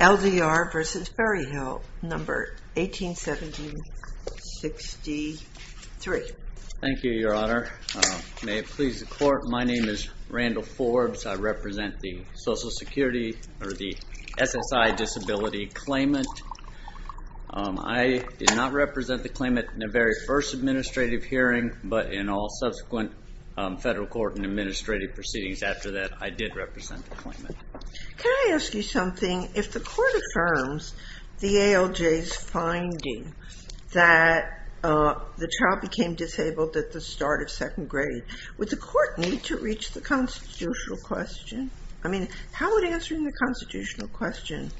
L.D.R. v. Berryhill, number 181763. Thank you, Your Honor. May it please the Court, my name is Randall Forbes. I represent the Social Security, or the SSI disability claimant. I did not represent the claimant in the very first administrative hearing, but in all subsequent federal court and administrative proceedings after that, I did represent the claimant. Can I ask you something? If the Court affirms the ALJ's finding that the child became disabled at the start of second grade, would the Court need to reach the constitutional question? I mean, how would answering the constitutional question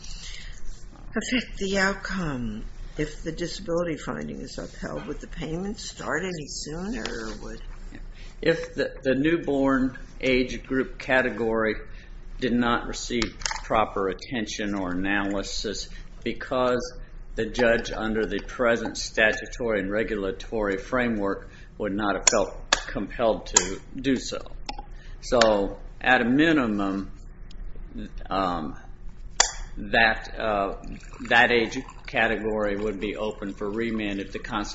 affect the outcome if the disability finding is upheld? Would the payment start any sooner, or would... If the newborn age group category did not receive proper attention or analysis because the judge under the present statutory and regulatory framework would not have felt compelled to do so. So, at a minimum, that age category would be open for remand if the claimant.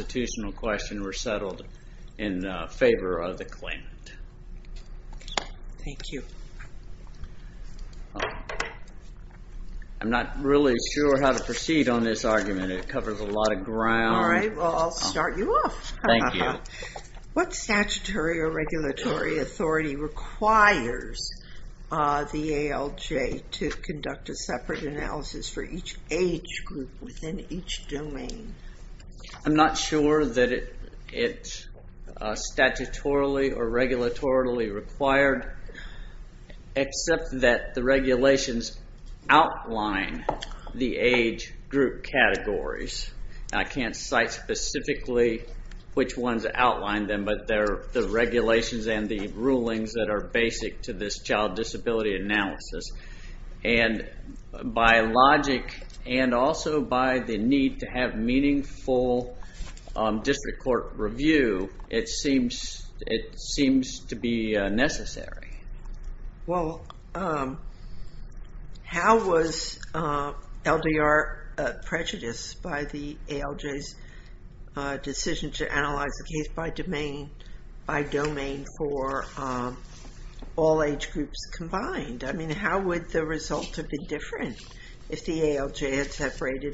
Thank you. I'm not really sure how to proceed on this argument. It covers a lot of ground. All right, well, I'll start you off. Thank you. What statutory or regulatory authority requires the ALJ to conduct a separate analysis for each age group within each statutorily or regulatorily required, except that the regulations outline the age group categories. I can't cite specifically which ones outline them, but they're the regulations and the rulings that are basic to this child disability analysis. And by logic and also by the need to have meaningful district court review, it seems to be necessary. Well, how was LDR prejudiced by the ALJ's decision to void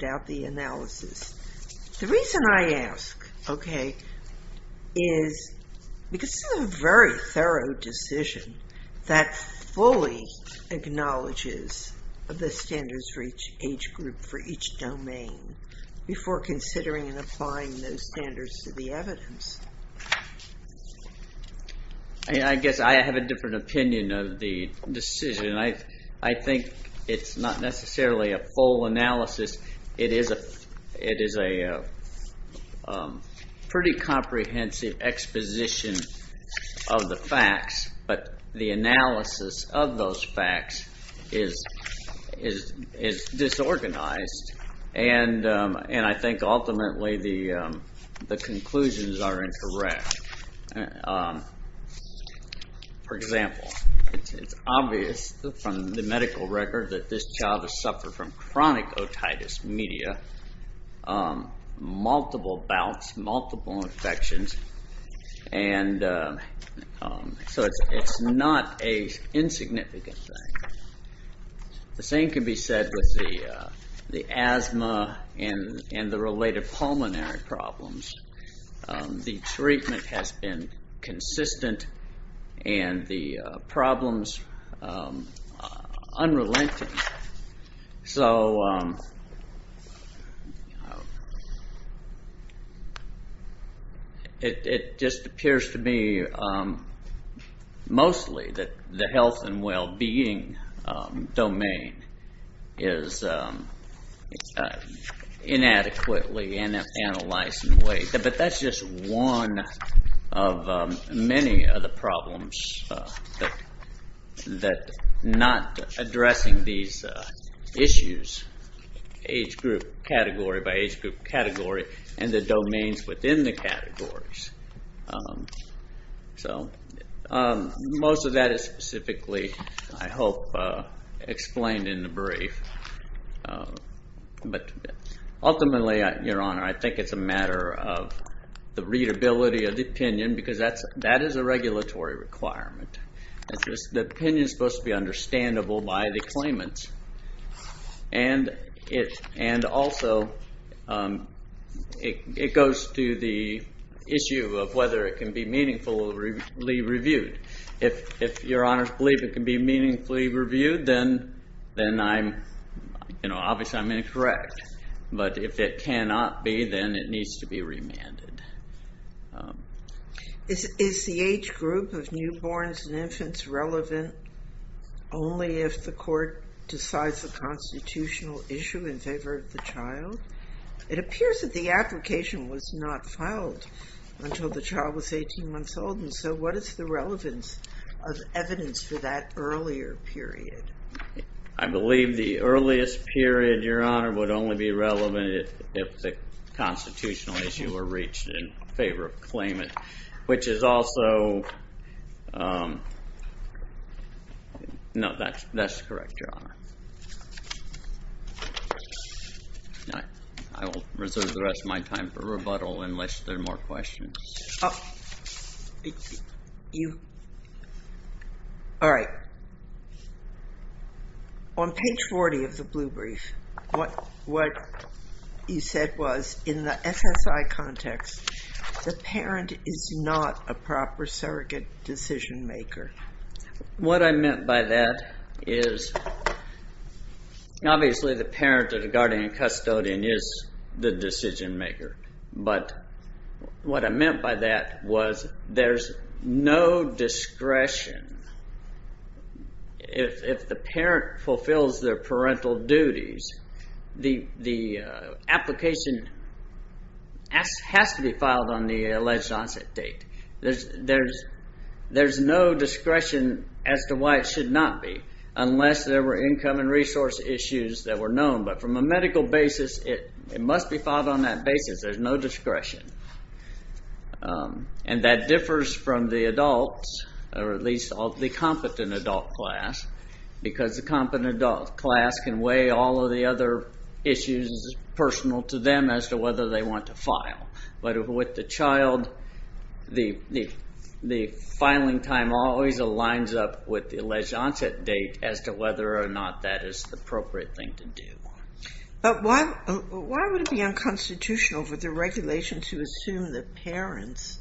out the analysis? The reason I ask, okay, is because this is a very thorough decision that fully acknowledges the standards for each age group for each domain before considering and applying those standards to the evidence. I guess I have a different opinion of the decision. I think it's not necessarily a full analysis. It is a pretty comprehensive exposition of the facts, but the analysis of those facts is disorganized and I think ultimately the conclusions are incorrect. For example, it's obvious from the medical record that this child has suffered from chronic otitis media, multiple related pulmonary problems. The treatment has been consistent and the problems unrelenting. So it just appears to me mostly that the health and disability analysis, but that's just one of many of the problems that not addressing these issues, age group category by age group category and the domains within the categories. So most of that is specifically, I hope, explained in the brief. But ultimately, your honor, I think it's a matter of the readability of the opinion because that is a regulatory requirement. The opinion is supposed to be understandable by the claimants. Also, it goes to the issue of whether it can be Is the age group of newborns and infants relevant only if the court decides the constitutional issue in favor of the child? It appears that the application was not filed until the child was 18 months old. And so what is the relevance of evidence for that earlier period? I believe the earliest period, your honor, would only be relevant if the constitutional issue were reached in favor of claimant, which is also No, that's that's correct, your honor. I will reserve the rest of my time for rebuttal unless there are more questions. All right. On page 40 of the blue brief, what you said was in the SSI context, the parent is not a proper surrogate decision maker. What I meant by that is, obviously, the parent or the guardian custodian is the decision maker. But what I meant by that was there's no discretion if the parent fulfills their parental duties. The application has to be filed on the alleged onset date. There's no discretion as to why it should not be unless there were income and resource issues that were known. But from a medical basis, it must be filed on that basis. There's no discretion. And that differs from the adults, or at least the competent adult class, because the competent adult class can weigh all of the other issues personal to them as to whether they want to file. But with the child, the filing time always aligns up with the alleged onset date as to whether or not that is the appropriate thing to do. But why would it be unconstitutional for the regulation to assume that parents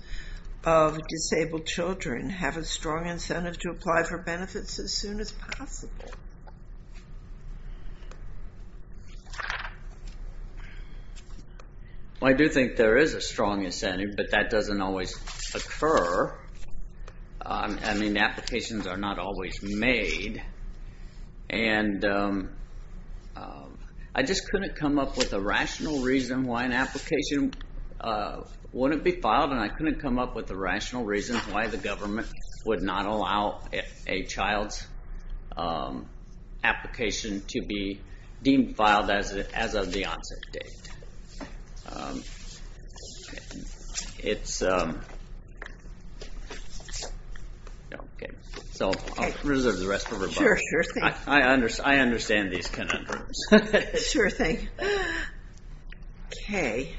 of disabled children have a strong incentive to apply for benefits as soon as possible? Well, I do think there is a strong incentive, but that doesn't always occur. I mean, applications are not always made. And I just couldn't come up with a rational reason why an application wouldn't be filed, and I couldn't come up with a rational reason why the government would not allow a child's application to be deemed filed as of the onset date. So I'll reserve the rest of her book. Sure, sure. I understand these conundrums. Sure thing. Good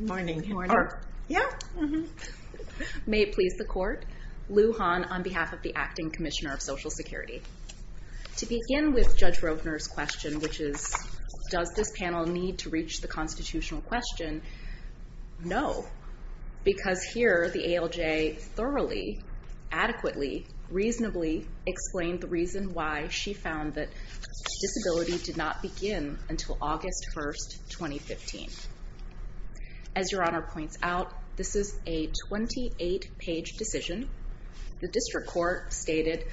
morning. Good morning. Yeah. May it please the court, Lou Hahn on behalf of the Acting Commissioner of Social Security. To begin with Judge Rovner's question, which is, does this panel need to reach the constitutional question? No, because here the ALJ thoroughly, adequately, reasonably explained the reason why she found that disability did not begin until August 1st, 2015. As Your Honor points out, this is a 28-page decision. The district court stated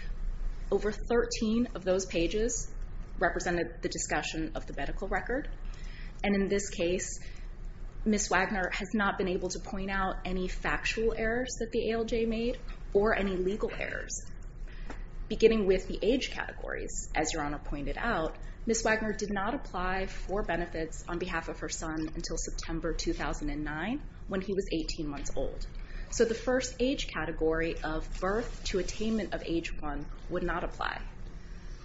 over 13 of those pages represented the discussion of the medical record. And in this case, Ms. Wagner has not been able to point out any factual errors that the ALJ made or any legal errors. Beginning with the age categories, as Your Honor pointed out, Ms. Wagner did not apply for benefits on behalf of her son until September 2009 when he was 18 months old. So the first age category of birth to attainment of age one would not apply.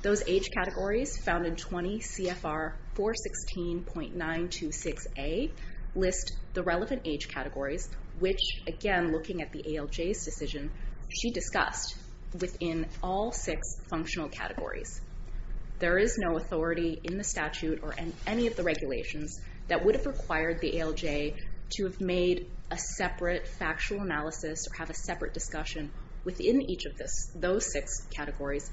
Those age categories found in 20 CFR 416.926A list the relevant age categories, which, again, looking at the ALJ's decision, she discussed within all six functional categories. There is no authority in the statute or in any of the regulations that would have required the ALJ to have made a separate factual analysis or have a separate discussion within each of those six categories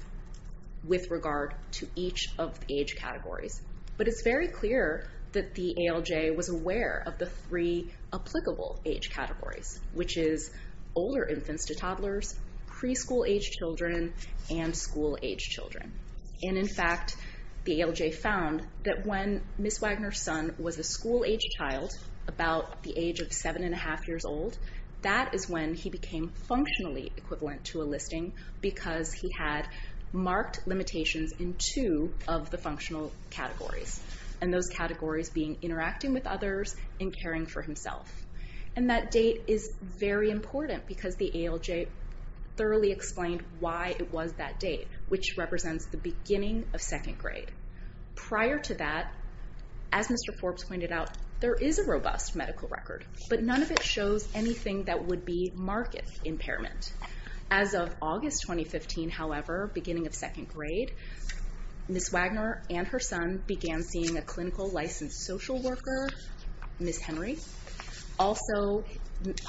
with regard to each of the age categories. But it's very clear that the ALJ was aware of the three applicable age categories, which is older infants to toddlers, preschool-age children, and school-age children. And in fact, the ALJ found that when Ms. Wagner's son was a school-age child, about the age of seven and a half years old, that is when he became functionally equivalent to a listing because he had marked limitations in two of the functional categories. And those categories being interacting with others and caring for himself. And that date is very important because the ALJ thoroughly explained why it was that date, which represents the beginning of second grade. Prior to that, as Mr. Forbes pointed out, there is a robust medical record, but none of it shows anything that would be marked impairment. As of August 2015, however, beginning of second grade, Ms. Wagner and her son began seeing a clinical licensed social worker, Ms. Henry. Also,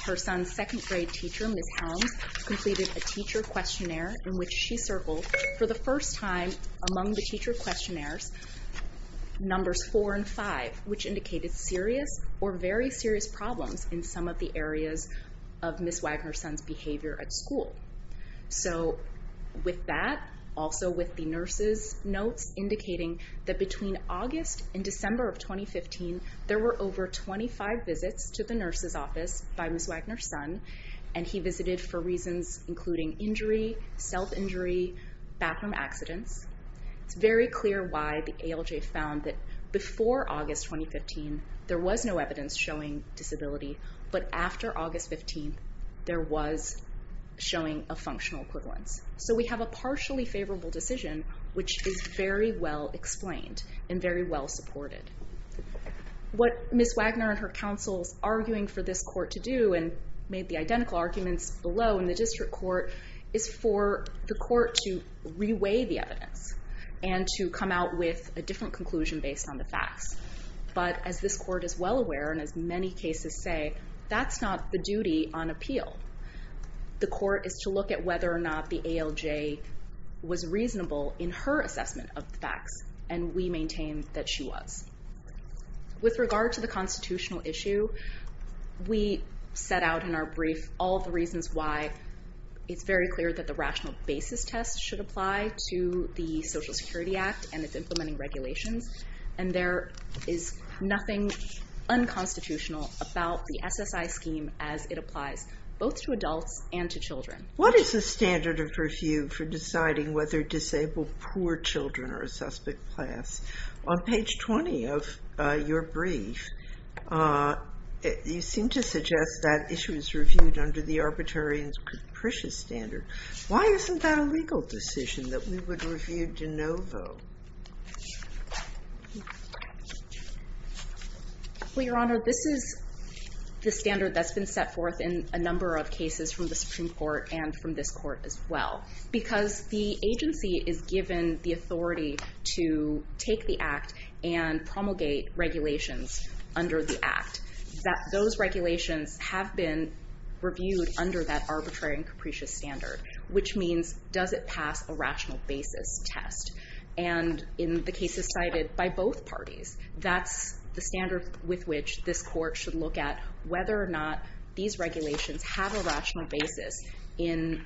her son's second grade teacher, Ms. Helms, completed a teacher questionnaire in which she circled, for the first time among the teacher questionnaires, numbers four and five, which indicated serious or very serious problems in some of the areas of Ms. Wagner's son's behavior at school. So with that, also with the nurse's notes indicating that between August and December of 2015, there were over 25 visits to the nurse's office by Ms. Wagner's son, and he visited for reasons including injury, self-injury, bathroom accidents. It's very clear why the ALJ found that before August 2015, there was no evidence showing disability, but after August 15, there was showing a functional equivalence. So we have a partially favorable decision, which is very well explained and very well supported. What Ms. Wagner and her counsels arguing for this court to do, and made the identical arguments below in the district court, is for the court to reweigh the evidence and to come out with a different conclusion based on the facts. But as this court is well aware, and as many cases say, that's not the duty on appeal. The court is to look at whether or not the ALJ was reasonable in her assessment of the facts, and we maintain that she was. With regard to the constitutional issue, we set out in our brief all the reasons why it's very clear that the rational basis test should apply to the Social Security Act, and it's implementing regulations, and there is nothing unconstitutional about the SSI scheme as it applies both to adults and to children. What is the standard of review for deciding whether disabled poor children are a suspect class? On page 20 of your brief, you seem to suggest that issue is reviewed under the arbitrarian's capricious standard. Why isn't that a legal decision that we would review de novo? Well, Your Honor, this is the standard that's been set forth in a number of cases from the Supreme Court and from this court as well, because the agency is given the authority to take the act and promulgate regulations under the act. Those regulations have been reviewed under that arbitrary and capricious standard, which means, does it pass a rational basis test? And in the cases cited by both parties, that's the standard with which this court should look at whether or not these regulations have a rational basis in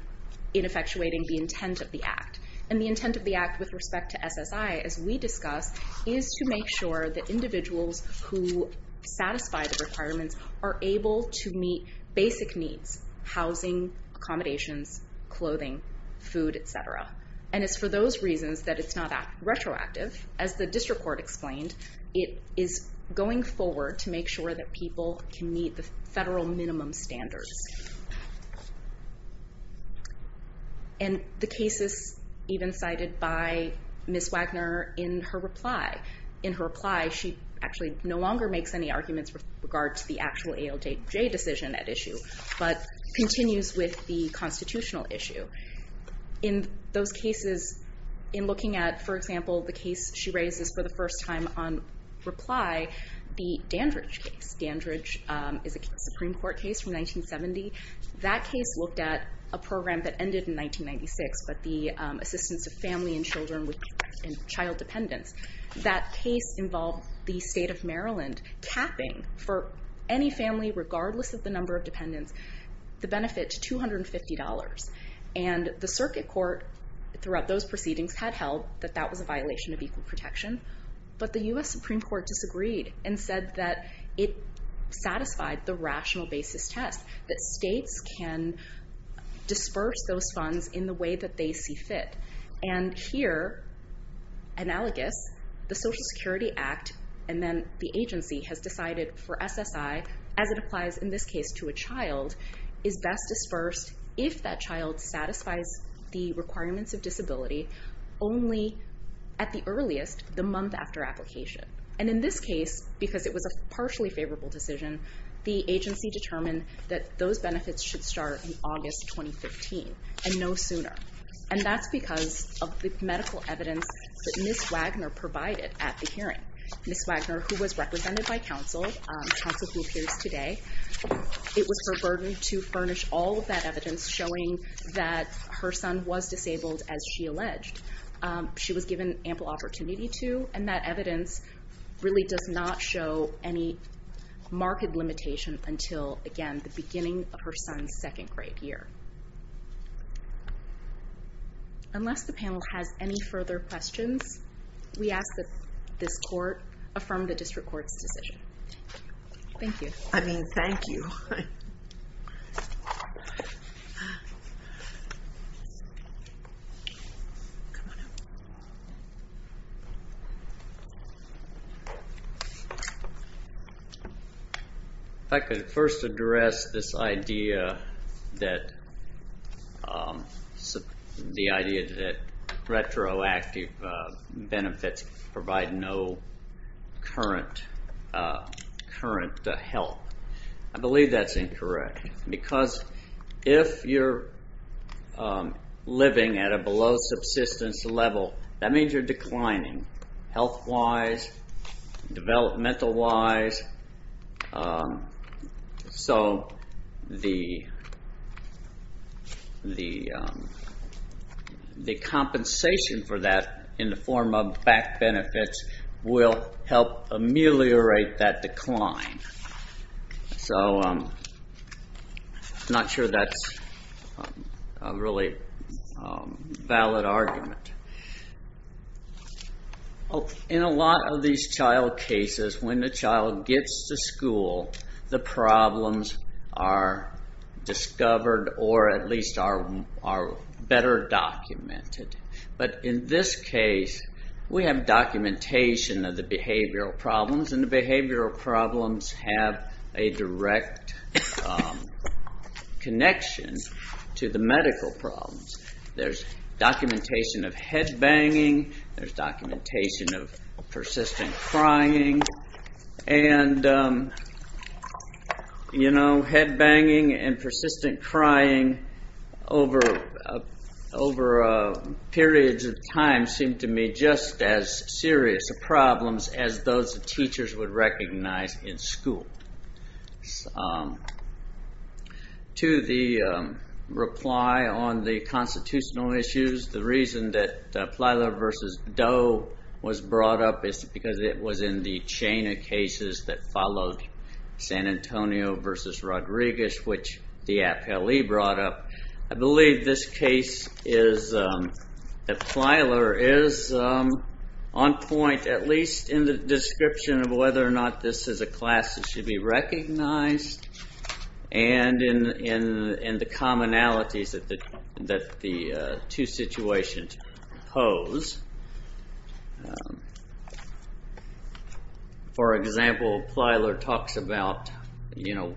effectuating the intent of the act. And the intent of the act with respect to SSI, as we discussed, is to make sure that individuals who satisfy the requirements are able to meet basic needs, housing, accommodations, clothing, food, etc. And it's for those reasons that it's not retroactive. As the district court explained, it is going forward to make sure that people can meet the federal minimum standards. And the cases even cited by Ms. Wagner, in her reply, she actually no longer makes any arguments with regard to the actual ALJ decision at issue, but continues with the constitutional issue. In those cases, in looking at, for example, the case she raises for the first time on reply, the Dandridge case. Dandridge is a Supreme Court case from 1970. That case looked at a program that ended in 1996, but the assistance of family and children with child dependence. That case involved the state of Maryland capping for any family, regardless of the number of dependents, the benefit to $250. And the circuit court throughout those proceedings had held that that was a violation of equal protection. But the U.S. Supreme Court disagreed and said that it satisfied the rational basis test, that states can disperse those funds in the way that they see fit. And here, analogous, the Social Security Act and then the agency has decided for SSI, as it applies in this case to a child, is best dispersed if that child satisfies the requirements of disability only at the earliest, the month after application. And in this case, because it was a partially favorable decision, the agency determined that those benefits should start in August 2015 and no sooner. And that's because of the medical evidence that Ms. Wagner provided at the hearing. Ms. Wagner, who was represented by counsel, counsel who appears today, it was her burden to furnish all of that evidence showing that her son was disabled, as she alleged. She was given ample opportunity to, and that evidence really does not show any marked limitation until, again, the beginning of her son's second grade year. Unless the panel has any further questions, we ask that this court affirm the district court's decision. Thank you. I mean, thank you. If I could first address this idea that the idea that retroactive benefits provide no current help. I believe that's incorrect, because if you're living at a below subsistence level, that means you're declining health-wise, developmental-wise, so the compensation for that in the form of back benefits will help ameliorate that decline. I'm not sure that's a really valid argument. In a lot of these child cases, when the child gets to school, the problems are discovered or at least are better documented. In this case, we have documentation of the behavioral problems, and the behavioral problems have a direct connection to the medical problems. There's documentation of head-banging, there's documentation of persistent crying, and head-banging and persistent crying over periods of time seem to me just as serious a problem as those teachers would recognize in school. To the reply on the constitutional issues, the reason that Plyler v. Doe was brought up is because it was in the chain of cases that followed San Antonio v. Rodriguez, which the appellee brought up. I believe this case is that Plyler is on point, at least in the description of whether or not this is a class that should be recognized, and in the commonalities that the two situations pose. For example, Plyler talks about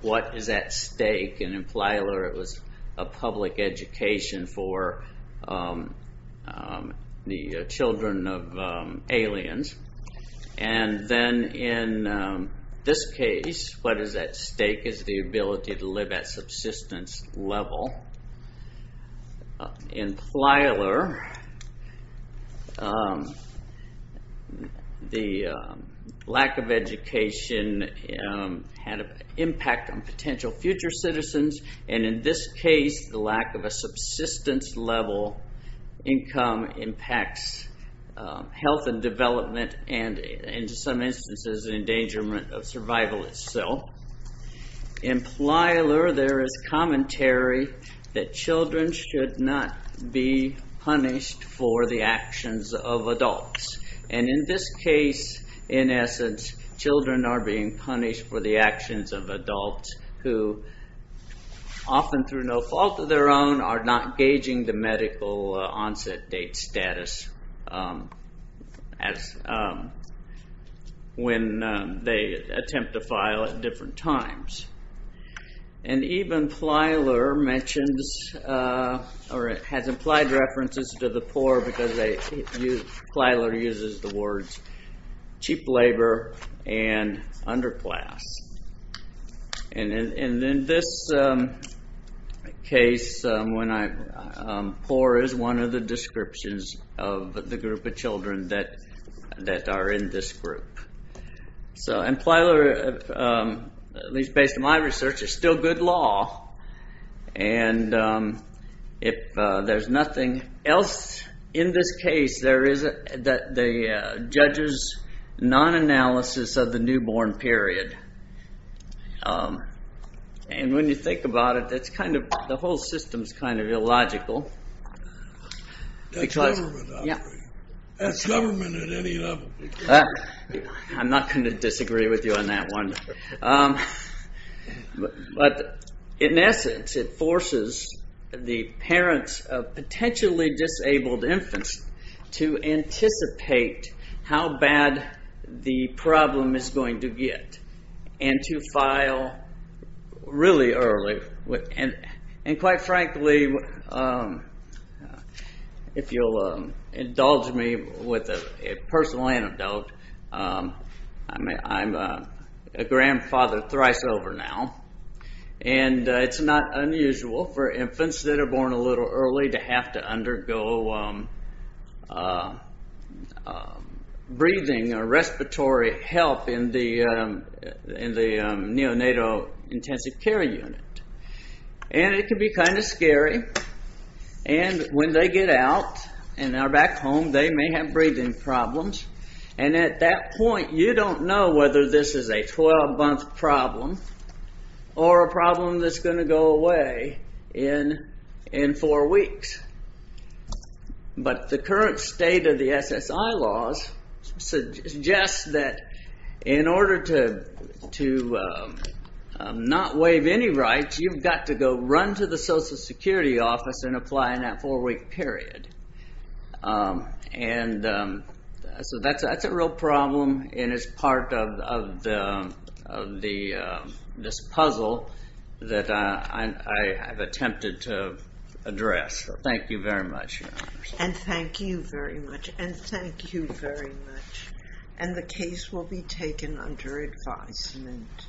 what is at stake, and in Plyler it was a public education for the children of aliens. Then in this case, what is at stake is the ability to live at subsistence level. In Plyler, the lack of education had an impact on potential future citizens, and in this case, the lack of a subsistence level income impacts health and development, and in some instances, the endangerment of survival itself. In Plyler, there is commentary that children should not be punished for the actions of adults, and in this case, in essence, children are being punished for the actions of adults, who often, through no fault of their own, are not gauging the medical onset date status when they attempt to file at different times. Even Plyler has implied references to the poor because Plyler uses the words cheap labor and underclass. In this case, poor is one of the descriptions of the group of children that are in this group. Plyler, at least based on my research, is still good law. If there's nothing else in this case, there is the judge's non-analysis of the newborn period. When you think about it, the whole system is kind of illogical. That's government, I agree. That's government at any level. I'm not going to disagree with you on that one. In essence, it forces the parents of potentially disabled infants to anticipate how bad the problem is going to get and to file really early. Quite frankly, if you'll indulge me with a personal anecdote, I'm a grandfather thrice over now, and it's not unusual for infants that are born a little early to have to undergo breathing or respiratory help in the neonatal intensive care unit. It can be kind of scary. When they get out and are back home, they may have breathing problems. At that point, you don't know whether this is a 12-month problem or a problem that's going to go away in four weeks. But the current state of the SSI laws suggests that in order to not waive any rights, you've got to go run to the Social Security office and apply in that four-week period. That's a real problem, and it's part of this puzzle that I have attempted to address. Thank you very much, Your Honor. Thank you very much, and thank you very much. The case will be taken under advisement.